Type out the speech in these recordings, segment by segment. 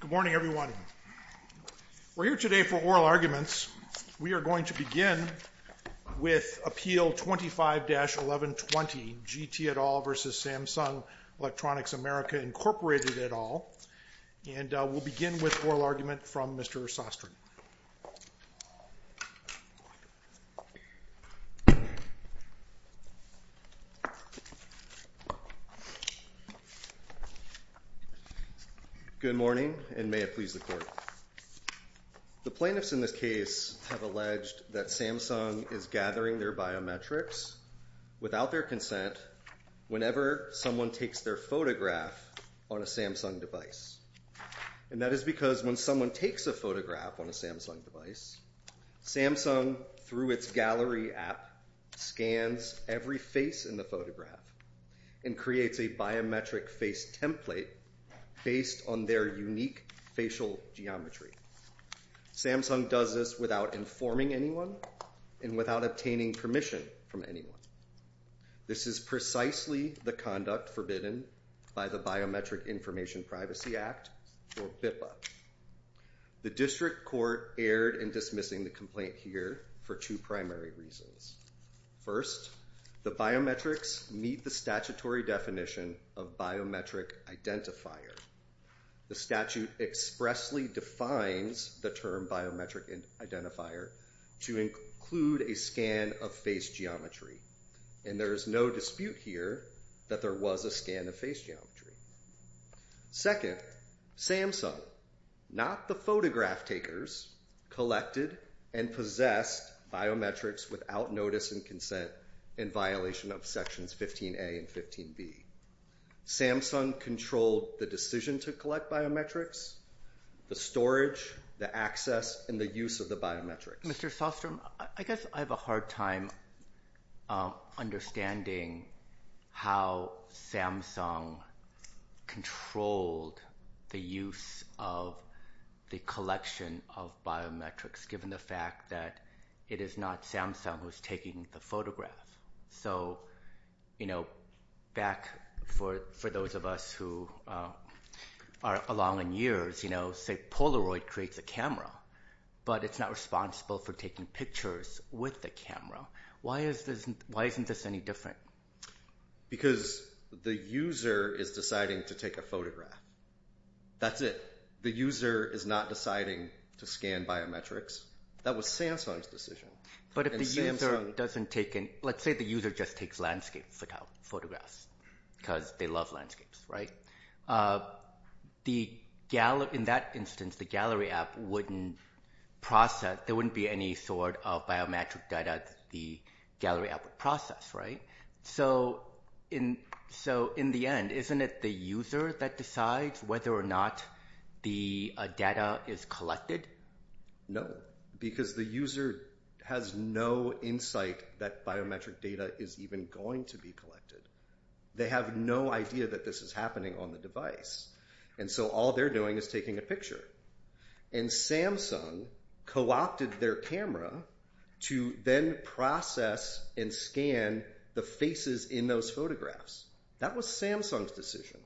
Good morning, everyone. We're here today for oral arguments. We are going to begin with Appeal 25-1120, G. T. et al. v. Samsung Electronics America, Incorporated et al. And we'll begin with oral argument from Mr. Sostrin. Good morning, and may it please the Court. The plaintiffs in this case have alleged that Samsung is gathering their biometrics without their consent whenever someone takes their photograph on a Samsung device. And that is because when someone takes a photograph on a Samsung device, Samsung, through its gallery app, scans every face in the photograph and creates a biometric face template based on their unique facial geometry. Samsung does this without informing anyone and without obtaining permission from anyone. This is precisely the conduct forbidden by the Biometric Information Privacy Act, or BIPA. The District Court erred in dismissing the complaint here for two primary reasons. First, the biometrics meet the statutory definition of biometric identifier. The statute expressly defines the term biometric identifier to include a scan of face geometry. And there is no dispute here that there was a scan of face geometry. Second, Samsung, not the photograph takers, collected and possessed biometrics without notice and consent in violation of Sections 15A and 15B. Samsung controlled the decision to collect biometrics, the storage, the access, and the use of the biometrics. Mr. Sostrom, I guess I have a hard time understanding how Samsung controlled the use of the collection of biometrics given the fact that it is not Samsung who is taking the photograph. So, you know, back for those of us who are along in years, you know, say Polaroid creates a camera, but it's not responsible for taking pictures with the camera. Why isn't this any different? Because the user is deciding to take a photograph. That's it. The user is not deciding to scan biometrics. That was Samsung's decision. But if the user doesn't take, let's say the user just takes landscape photographs because they love landscapes, right? In that instance, the gallery app wouldn't process, there wouldn't be any sort of biometric data the gallery app would process, right? So in the end, isn't it the user that decides whether or not the data is collected? No, because the user has no insight that biometric data is even going to be collected. They have no idea that this is happening on the device. And so all they're doing is taking a picture. And Samsung co-opted their camera to then process and scan the faces in those photographs. That was Samsung's decision.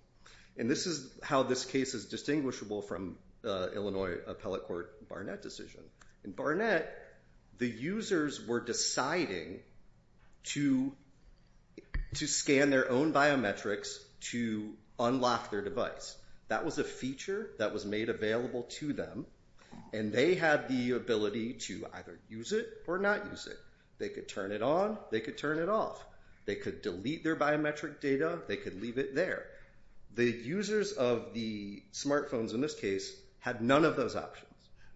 And this is how this case is distinguishable from Illinois Appellate Court Barnett decision. In Barnett, the users were deciding to scan their own biometrics to unlock their device. That was a feature that was made available to them. And they had the ability to either use it or not use it. They could turn it on. They could turn it off. They could delete their biometric data. They could leave it there. The users of the smartphones in this case had none of those options.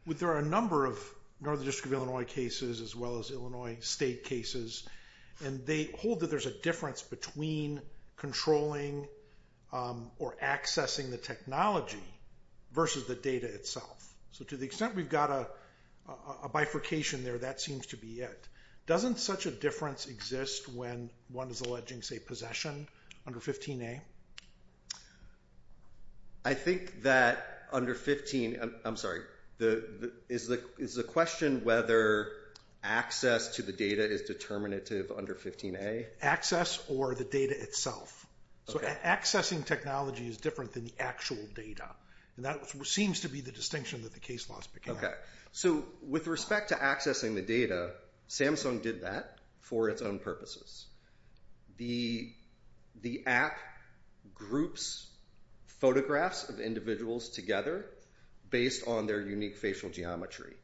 There are a number of Northern District of Illinois cases as well as Illinois state cases. And they hold that there's a difference between controlling or accessing the technology versus the data itself. So to the extent we've got a bifurcation there, that seems to be it. Doesn't such a difference exist when one is alleging, say, possession under 15A? I think that under 15—I'm sorry. Is the question whether access to the data is determinative under 15A? Access or the data itself. So accessing technology is different than the actual data. And that seems to be the distinction that the case laws began. Okay. So with respect to accessing the data, Samsung did that for its own purposes. The app groups photographs of individuals together based on their unique facial geometry.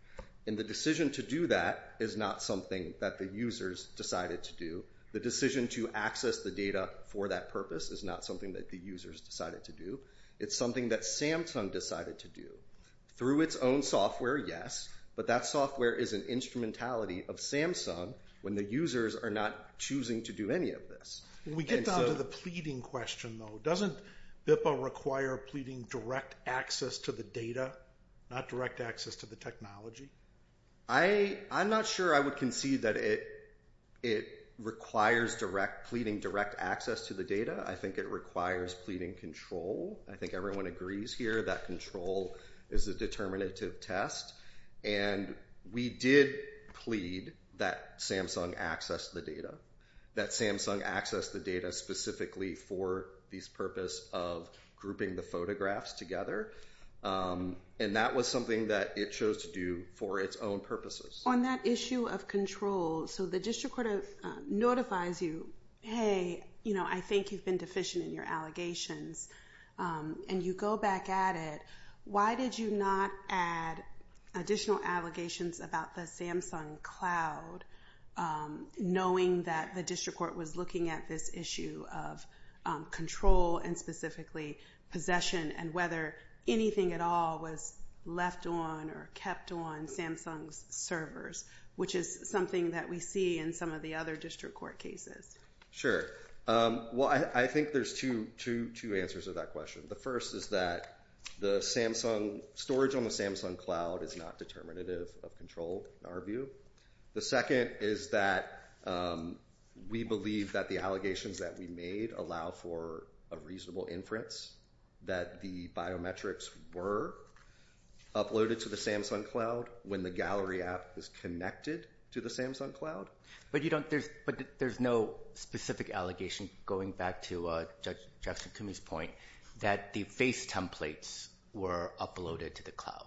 And the decision to do that is not something that the users decided to do. The decision to access the data for that purpose is not something that the users decided to do. It's something that Samsung decided to do. Through its own software, yes. But that software is an instrumentality of Samsung when the users are not choosing to do any of this. We get down to the pleading question, though. Doesn't BIPA require pleading direct access to the data, not direct access to the technology? I'm not sure I would concede that it requires pleading direct access to the data. I think it requires pleading control. I think everyone agrees here that control is a determinative test. And we did plead that Samsung access the data. That Samsung access the data specifically for this purpose of grouping the photographs together. And that was something that it chose to do for its own purposes. On that issue of control, so the district court notifies you, hey, you know, I think you've been deficient in your allegations. And you go back at it, why did you not add additional allegations about the Samsung cloud, knowing that the district court was looking at this issue of control and specifically possession and whether anything at all was left on or kept on Samsung's servers, which is something that we see in some of the other district court cases. Sure. Well, I think there's two answers to that question. The first is that the Samsung storage on the Samsung cloud is not determinative of control in our view. The second is that we believe that the allegations that we made allow for a reasonable inference that the biometrics were uploaded to the Samsung cloud when the gallery app is connected to the Samsung cloud. But there's no specific allegation, going back to Judge Jackson-Koomi's point, that the face templates were uploaded to the cloud.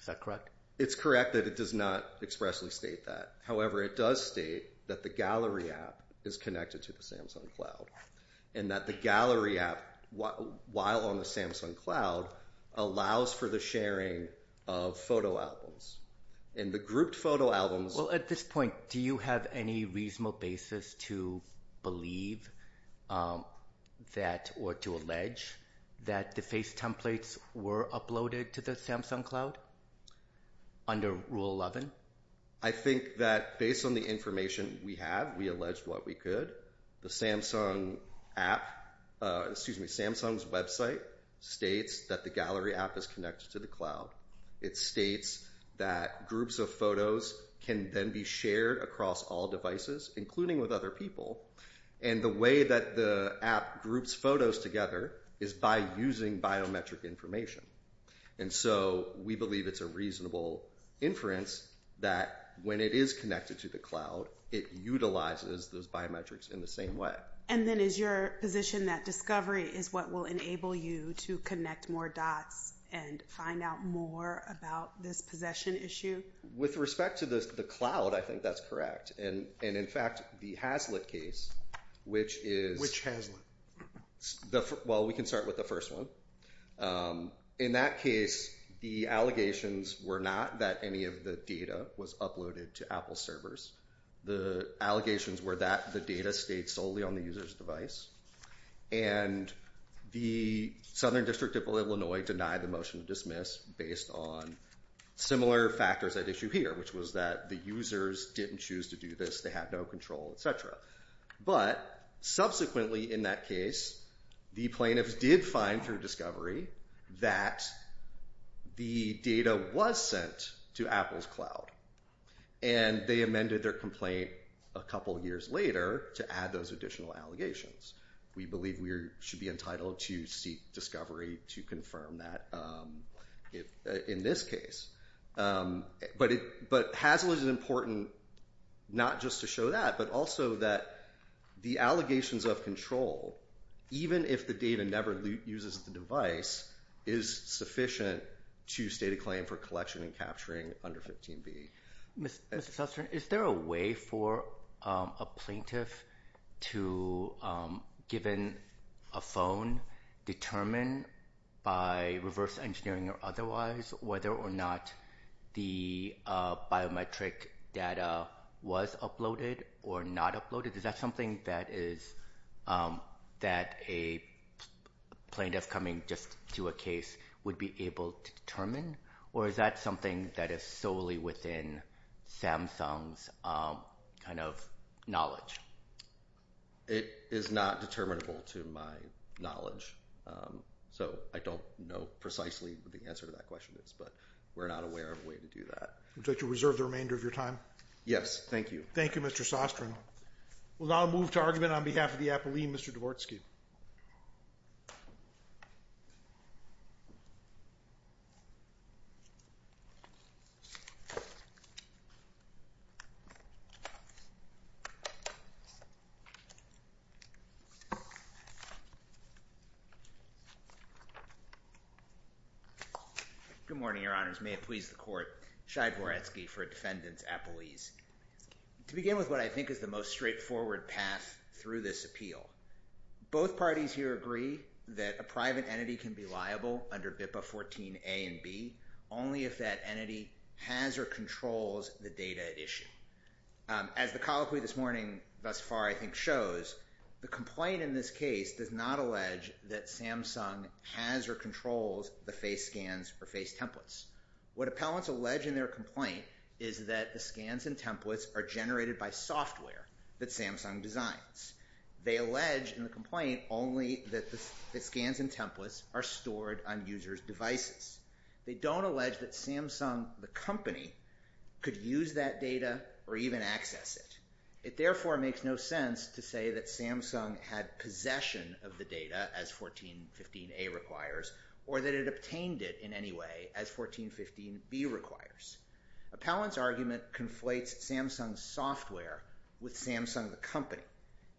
Is that correct? It's correct that it does not expressly state that. However, it does state that the gallery app is connected to the Samsung cloud and that the gallery app, while on the Samsung cloud, allows for the sharing of photo albums. Well, at this point, do you have any reasonable basis to believe or to allege that the face templates were uploaded to the Samsung cloud under Rule 11? I think that based on the information we have, we allege what we could. Samsung's website states that the gallery app is connected to the cloud. It states that groups of photos can then be shared across all devices, including with other people. And the way that the app groups photos together is by using biometric information. And so we believe it's a reasonable inference that when it is connected to the cloud, it utilizes those biometrics in the same way. And then is your position that discovery is what will enable you to connect more dots and find out more about this possession issue? With respect to the cloud, I think that's correct. And in fact, the Hazlet case, which is… Which Hazlet? Well, we can start with the first one. In that case, the allegations were not that any of the data was uploaded to Apple servers. The allegations were that the data stayed solely on the user's device. And the Southern District of Illinois denied the motion to dismiss based on similar factors at issue here, which was that the users didn't choose to do this. They had no control, et cetera. But subsequently in that case, the plaintiffs did find through discovery that the data was sent to Apple's cloud. And they amended their complaint a couple of years later to add those additional allegations. We believe we should be entitled to seek discovery to confirm that in this case. But Hazlet is important not just to show that, but also that the allegations of control, even if the data never uses the device, is sufficient to state a claim for collection and capturing under 15B. Mr. Sussman, is there a way for a plaintiff to, given a phone, determine by reverse engineering or otherwise whether or not the biometric data was uploaded or not uploaded? Is that something that a plaintiff coming just to a case would be able to determine? Or is that something that is solely within Samsung's kind of knowledge? It is not determinable to my knowledge. So I don't know precisely what the answer to that question is, but we're not aware of a way to do that. Would you like to reserve the remainder of your time? Yes, thank you. Thank you, Mr. Sussman. We'll now move to argument on behalf of the appellee, Mr. Dvorsky. Good morning, Your Honors. May it please the Court, Shai Dvorsky for Defendant's Appellees. To begin with what I think is the most straightforward path through this appeal, both parties here agree that a private entity can be liable under BIPA 14A and B only if that entity has or controls the data at issue. As the colloquy this morning thus far, I think, shows, the complaint in this case does not allege that Samsung has or controls the face scans or face templates. What appellants allege in their complaint is that the scans and templates are generated by software that Samsung designs. They allege in the complaint only that the scans and templates are stored on users' devices. They don't allege that Samsung, the company, could use that data or even access it. It therefore makes no sense to say that Samsung had possession of the data as 1415A requires or that it obtained it in any way as 1415B requires. Appellants' argument conflates Samsung's software with Samsung, the company.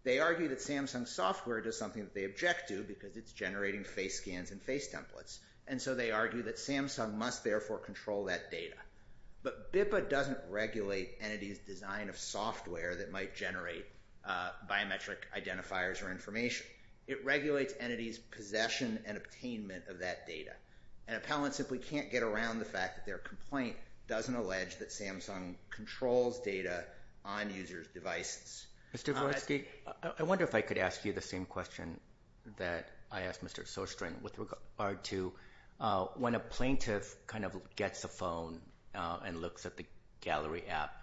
They argue that Samsung's software does something that they object to because it's generating face scans and face templates. And so they argue that Samsung must therefore control that data. But BIPA doesn't regulate entities' design of software that might generate biometric identifiers or information. It regulates entities' possession and attainment of that data. And appellants simply can't get around the fact that their complaint doesn't allege that Samsung controls data on users' devices. Mr. Grodzki, I wonder if I could ask you the same question that I asked Mr. Sostrin with regard to when a plaintiff gets a phone and looks at the gallery app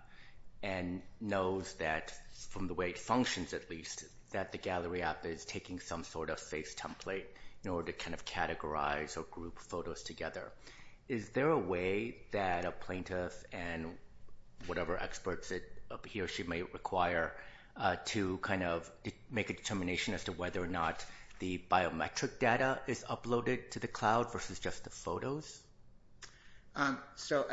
and knows that, from the way it functions at least, that the gallery app is taking some sort of face template in order to categorize or group photos together. Is there a way that a plaintiff and whatever experts it appears she may require to kind of make a determination as to whether or not the biometric data is uploaded to the cloud versus just the photos? So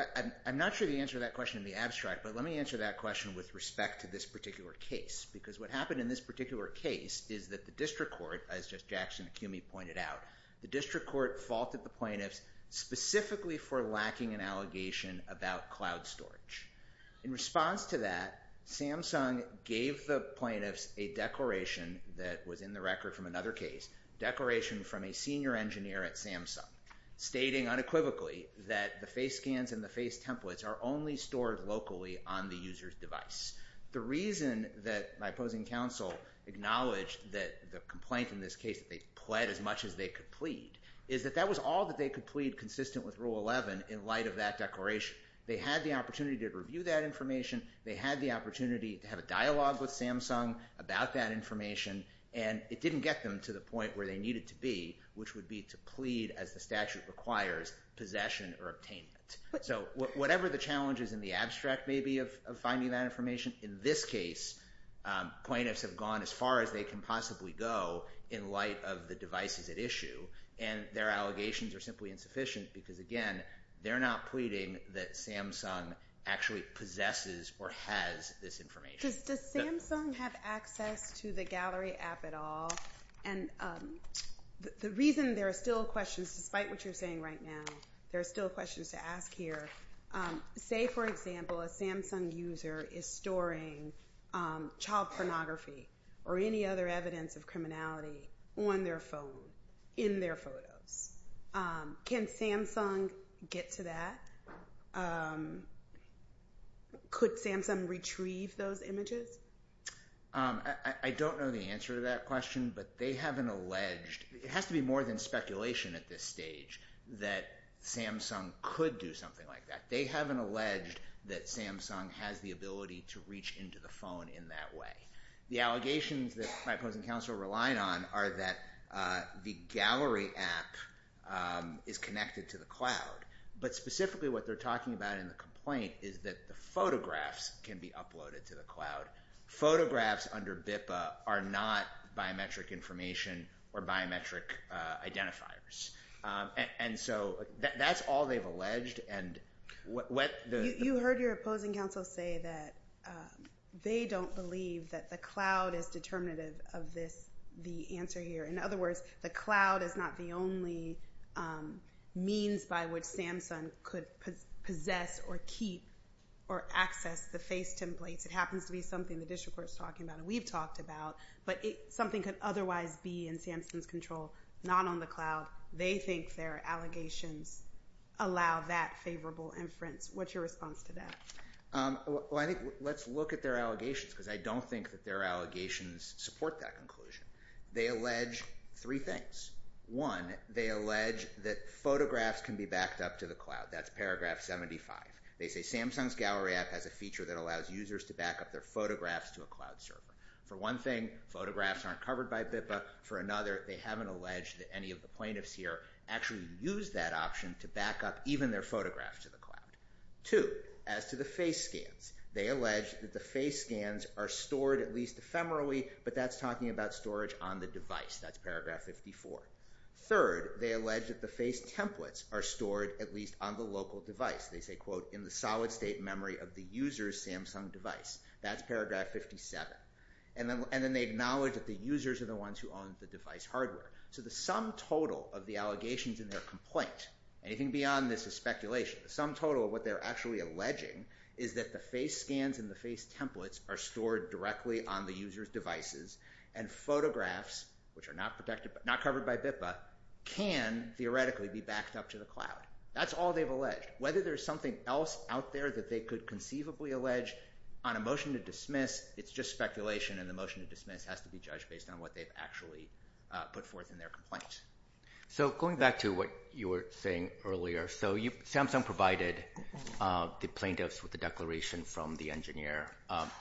I'm not sure the answer to that question would be abstract, but let me answer that question with respect to this particular case. Because what happened in this particular case is that the district court, as just Jackson Acumi pointed out, the district court faulted the plaintiffs specifically for lacking an allegation about cloud storage. In response to that, Samsung gave the plaintiffs a declaration that was in the record from another case, a declaration from a senior engineer at Samsung, stating unequivocally that the face scans and the face templates are only stored locally on the user's device. The reason that my opposing counsel acknowledged that the complaint in this case that they pled as much as they could plead is that that was all that they could plead consistent with Rule 11 in light of that declaration. Which they had the opportunity to review that information. They had the opportunity to have a dialogue with Samsung about that information. And it didn't get them to the point where they needed to be, which would be to plead as the statute requires possession or obtainment. So whatever the challenges in the abstract may be of finding that information, in this case plaintiffs have gone as far as they can possibly go in light of the devices at issue. And their allegations are simply insufficient because, again, they're not pleading that Samsung actually possesses or has this information. Does Samsung have access to the gallery app at all? And the reason there are still questions, despite what you're saying right now, there are still questions to ask here. Say, for example, a Samsung user is storing child pornography or any other evidence of criminality on their phone, in their photos. Can Samsung get to that? Could Samsung retrieve those images? I don't know the answer to that question, but they have an alleged, it has to be more than speculation at this stage, that Samsung could do something like that. They have an alleged that Samsung has the ability to reach into the phone in that way. The allegations that my opposing counsel relied on are that the gallery app is connected to the cloud. But specifically what they're talking about in the complaint is that the photographs can be uploaded to the cloud. Photographs under BIPA are not biometric information or biometric identifiers. And so that's all they've alleged. You heard your opposing counsel say that they don't believe that the cloud is determinative of the answer here. In other words, the cloud is not the only means by which Samsung could possess or keep or access the face templates. It happens to be something the district court is talking about and we've talked about. But something could otherwise be in Samsung's control, not on the cloud. They think their allegations allow that favorable inference. What's your response to that? Well, I think let's look at their allegations because I don't think that their allegations support that conclusion. They allege three things. One, they allege that photographs can be backed up to the cloud. That's paragraph 75. They say Samsung's gallery app has a feature that allows users to back up their photographs to a cloud server. For one thing, photographs aren't covered by BIPA. For another, they haven't alleged that any of the plaintiffs here actually use that option to back up even their photographs to the cloud. Two, as to the face scans, they allege that the face scans are stored at least ephemerally, but that's talking about storage on the device. That's paragraph 54. Third, they allege that the face templates are stored at least on the local device. They say, quote, in the solid state memory of the user's Samsung device. That's paragraph 57. And then they acknowledge that the users are the ones who own the device hardware. So the sum total of the allegations in their complaint, anything beyond this is speculation, the sum total of what they're actually alleging is that the face scans and the face templates are stored directly on the user's devices, and photographs, which are not covered by BIPA, can theoretically be backed up to the cloud. That's all they've alleged. Whether there's something else out there that they could conceivably allege on a motion to dismiss, it's just speculation, and the motion to dismiss has to be judged based on what they've actually put forth in their complaint. So going back to what you were saying earlier, so Samsung provided the plaintiffs with a declaration from the engineer,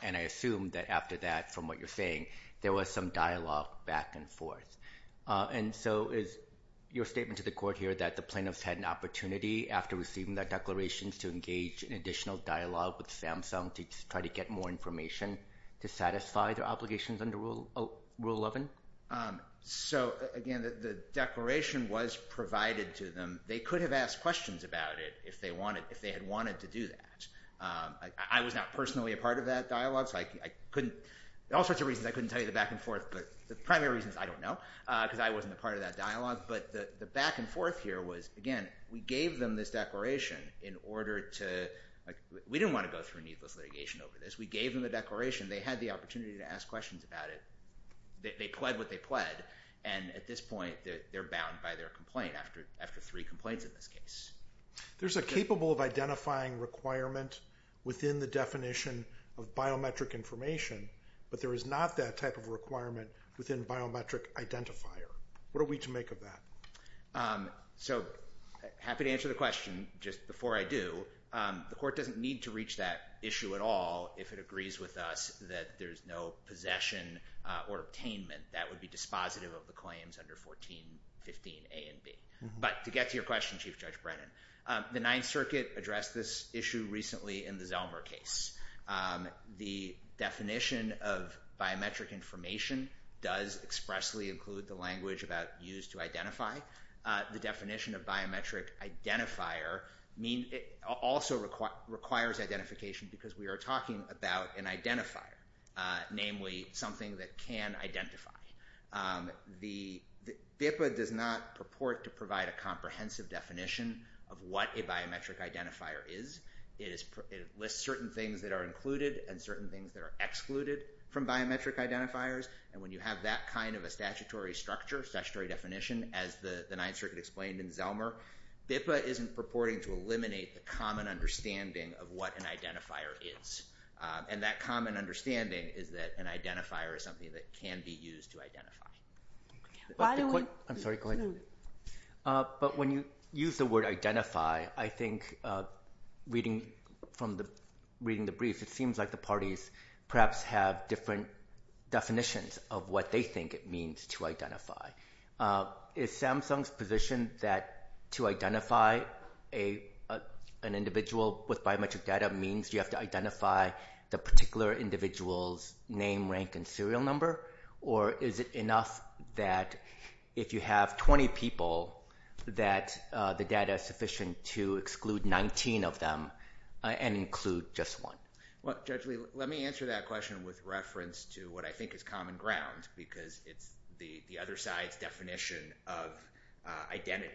and I assume that after that, from what you're saying, there was some dialogue back and forth. And so is your statement to the court here that the plaintiffs had an opportunity after receiving that declaration to engage in additional dialogue with Samsung to try to get more information to satisfy their obligations under Rule 11? So, again, the declaration was provided to them. They could have asked questions about it if they had wanted to do that. I was not personally a part of that dialogue, so I couldn't – there are all sorts of reasons I couldn't tell you the back and forth, but the primary reason is I don't know because I wasn't a part of that dialogue. But the back and forth here was, again, we gave them this declaration in order to – we didn't want to go through needless litigation over this. We gave them the declaration. They had the opportunity to ask questions about it. They pled what they pled, and at this point, they're bound by their complaint after three complaints in this case. There's a capable of identifying requirement within the definition of biometric information, but there is not that type of requirement within biometric identifier. What are we to make of that? So happy to answer the question just before I do. The court doesn't need to reach that issue at all if it agrees with us that there's no possession or attainment. That would be dispositive of the claims under 1415 A and B. But to get to your question, Chief Judge Brennan, the Ninth Circuit addressed this issue recently in the Zelmer case. The definition of biometric information does expressly include the language about used to identify. The definition of biometric identifier also requires identification because we are talking about an identifier, namely something that can identify. The BIPA does not purport to provide a comprehensive definition of what a biometric identifier is. It lists certain things that are included and certain things that are excluded from biometric identifiers, and when you have that kind of a statutory structure, statutory definition, as the Ninth Circuit explained in Zelmer, BIPA isn't purporting to eliminate the common understanding of what an identifier is, and that common understanding is that an identifier is something that can be used to identify. I'm sorry, go ahead. But when you use the word identify, I think reading from the brief, it seems like the parties perhaps have different definitions of what they think it means to identify. Is Samsung's position that to identify an individual with biometric data means you have to identify the particular individual's name, rank, and serial number, or is it enough that if you have 20 people that the data is sufficient to exclude 19 of them and include just one? Well, Judge Lee, let me answer that question with reference to what I think is common ground because it's the other side's definition of identity.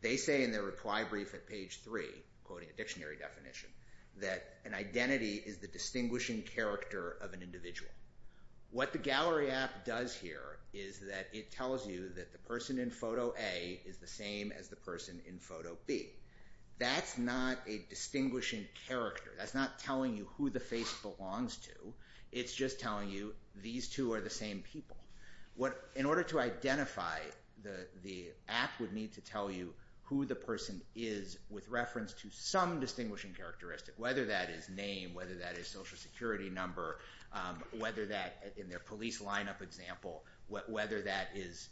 They say in their reply brief at page 3, quoting a dictionary definition, that an identity is the distinguishing character of an individual. What the gallery app does here is that it tells you that the person in photo A is the same as the person in photo B. That's not a distinguishing character. That's not telling you who the face belongs to. It's just telling you these two are the same people. In order to identify, the app would need to tell you who the person is with reference to some distinguishing characteristic, whether that is name, whether that is social security number, whether that in their police lineup example, whether that is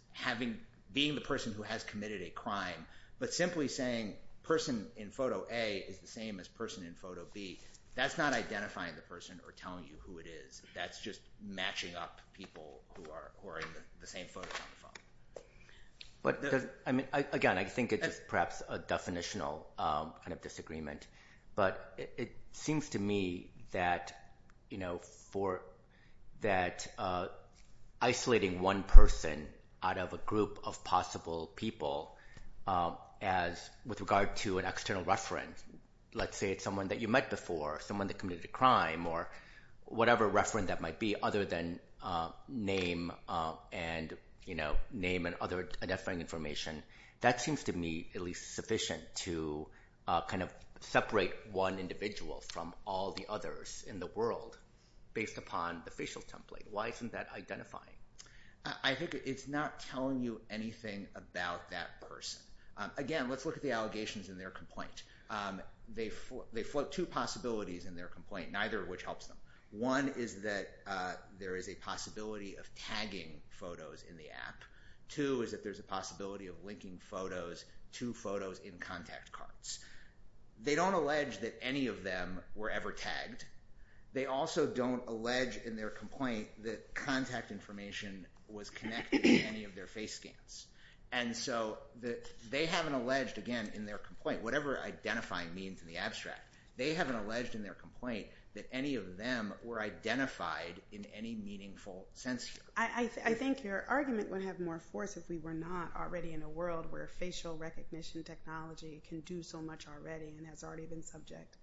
being the person who has committed a crime, but simply saying person in photo A is the same as person in photo B. That's not identifying the person or telling you who it is. That's just matching up people who are in the same photo. Again, I think it's perhaps a definitional kind of disagreement, but it seems to me that isolating one person out of a group of possible people with regard to an external reference, let's say it's someone that you met before, someone that committed a crime, or whatever reference that might be other than name and other identifying information, that seems to me at least sufficient to separate one individual from all the others in the world based upon the facial template. Why isn't that identifying? I think it's not telling you anything about that person. Again, let's look at the allegations in their complaint. They float two possibilities in their complaint, neither of which helps them. One is that there is a possibility of tagging photos in the app. Two is that there's a possibility of linking photos to photos in contact cards. They don't allege that any of them were ever tagged. They also don't allege in their complaint that contact information was connected to any of their face scans. They haven't alleged, again in their complaint, whatever identifying means in the abstract, they haven't alleged in their complaint that any of them were identified in any meaningful sense here. I think your argument would have more force if we were not already in a world where facial recognition technology can do so much already and has already been subject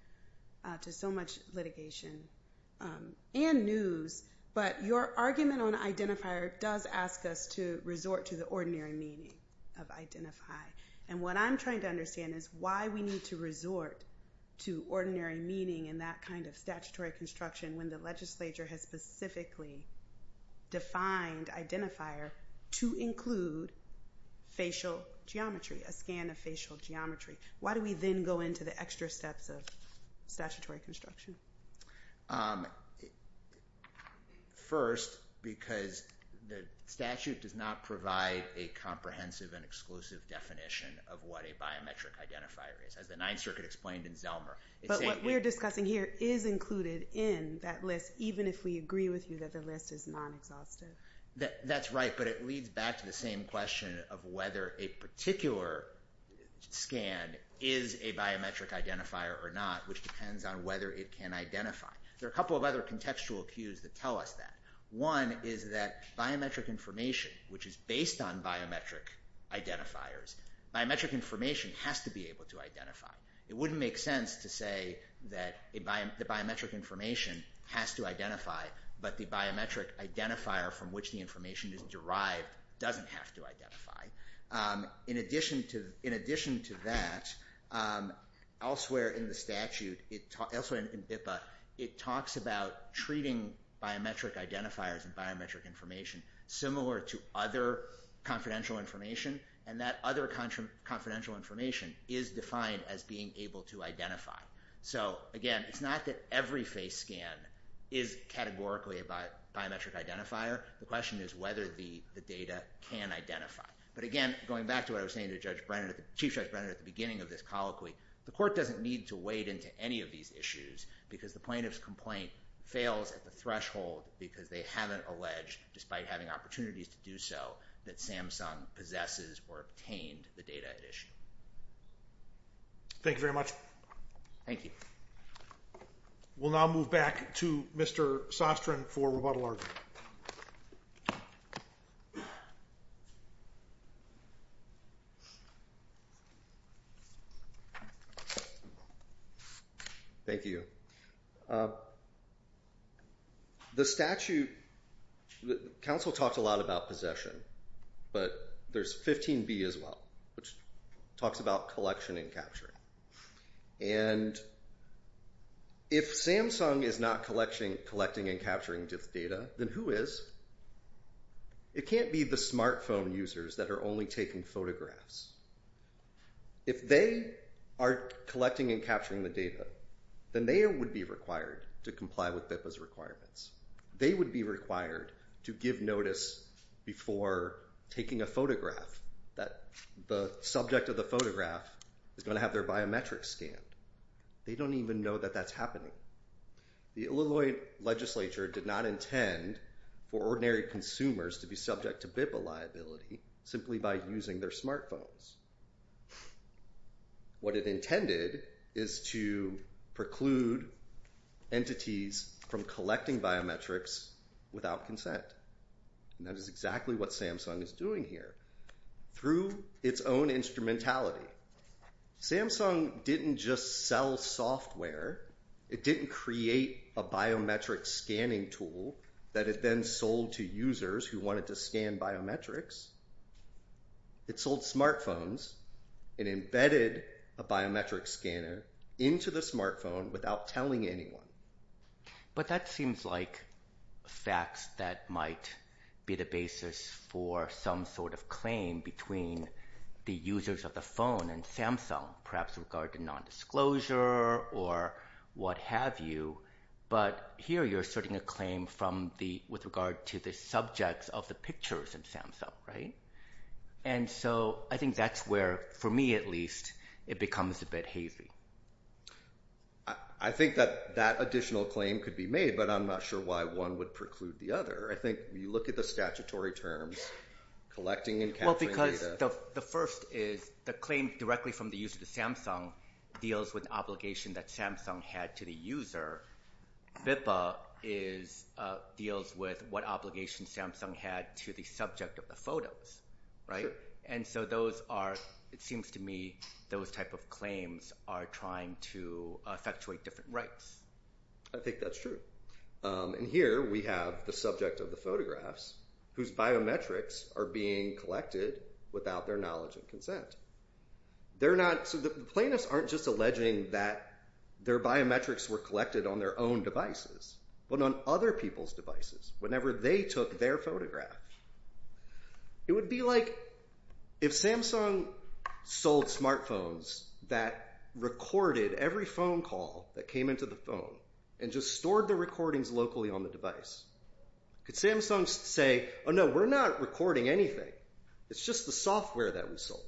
to so much litigation and news, but your argument on identifier does ask us to resort to the ordinary meaning of identify, and what I'm trying to understand is why we need to resort to ordinary meaning in that kind of statutory construction when the legislature has specifically defined identifier to include facial geometry, a scan of facial geometry. Why do we then go into the extra steps of statutory construction? First, because the statute does not provide a comprehensive and exclusive definition of what a biometric identifier is, as the Ninth Circuit explained in Zelmer. But what we're discussing here is included in that list, even if we agree with you that the list is non-exhaustive. That's right, but it leads back to the same question of whether a particular scan is a biometric identifier or not, which depends on whether it can identify. There are a couple of other contextual cues that tell us that. One is that biometric information, which is based on biometric identifiers, biometric information has to be able to identify. It wouldn't make sense to say that the biometric information has to identify, but the biometric identifier from which the information is derived doesn't have to identify. In addition to that, elsewhere in the statute, elsewhere in BIPA, it talks about treating biometric identifiers and biometric information similar to other confidential information, and that other confidential information is defined as being able to identify. So again, it's not that every face scan is categorically a biometric identifier. The question is whether the data can identify. But again, going back to what I was saying to Chief Judge Brennan at the beginning of this colloquy, the court doesn't need to wade into any of these issues because the plaintiff's complaint fails at the threshold because they haven't alleged, despite having opportunities to do so, that Samsung possesses or obtained the data at issue. Thank you very much. Thank you. We'll now move back to Mr. Sostrin for rebuttal argument. Thank you. The statute, the counsel talked a lot about possession, but there's 15B as well, which talks about collection and capture. And if Samsung is not collecting and capturing data, then who is? It can't be the smartphone users that are only taking photographs. If they are collecting and capturing the data, then they would be required to comply with BIPA's requirements. They would be required to give notice before taking a photograph that the subject of the photograph is going to have their biometrics scanned. They don't even know that that's happening. The Illinois legislature did not intend for ordinary consumers to be subject to BIPA liability simply by using their smartphones. What it intended is to preclude entities from collecting biometrics without consent. That is exactly what Samsung is doing here through its own instrumentality. Samsung didn't just sell software. It didn't create a biometric scanning tool that it then sold to users who wanted to scan biometrics. It sold smartphones and embedded a biometric scanner into the smartphone without telling anyone. But that seems like facts that might be the basis for some sort of claim between the users of the phone and Samsung, perhaps with regard to nondisclosure or what have you. But here you're asserting a claim with regard to the subjects of the pictures in Samsung, right? And so I think that's where, for me at least, it becomes a bit hazy. I think that that additional claim could be made, but I'm not sure why one would preclude the other. I think you look at the statutory terms, collecting and capturing data. Well, because the first is the claim directly from the user to Samsung deals with obligation that Samsung had to the user. BIPA deals with what obligation Samsung had to the subject of the photos, right? And so those are, it seems to me, those type of claims are trying to effectuate different rights. I think that's true. And here we have the subject of the photographs whose biometrics are being collected without their knowledge and consent. They're not, so the plaintiffs aren't just alleging that their biometrics were collected on their own devices, but on other people's devices whenever they took their photograph. It would be like if Samsung sold smartphones that recorded every phone call that came into the phone and just stored the recordings locally on the device. Could Samsung say, oh no, we're not recording anything. It's just the software that we sold.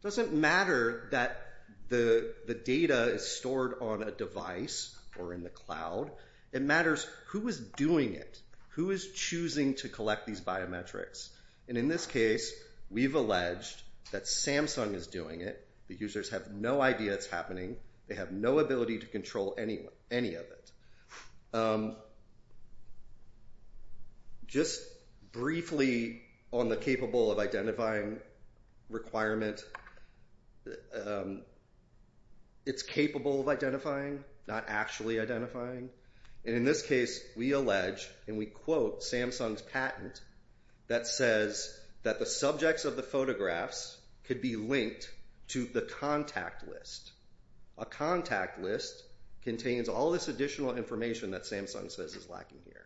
It doesn't matter that the data is stored on a device or in the cloud. It matters who is doing it, who is choosing to collect these biometrics. And in this case, we've alleged that Samsung is doing it. The users have no idea it's happening. They have no ability to control any of it. Just briefly on the capable of identifying requirement. It's capable of identifying, not actually identifying. And in this case, we allege and we quote Samsung's patent that says that the subjects of the photographs could be linked to the contact list. A contact list contains all this additional information that Samsung says is lacking here.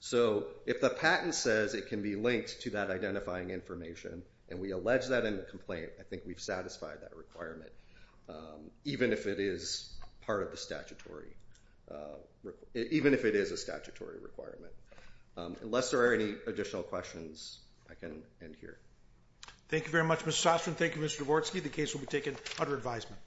So if the patent says it can be linked to that identifying information and we allege that in the complaint, I think we've satisfied that requirement, even if it is part of the statutory, even if it is a statutory requirement. Unless there are any additional questions, I can end here. Thank you very much, Mr. Soskin. Thank you, Mr. Dvorsky. The case will be taken under advisement.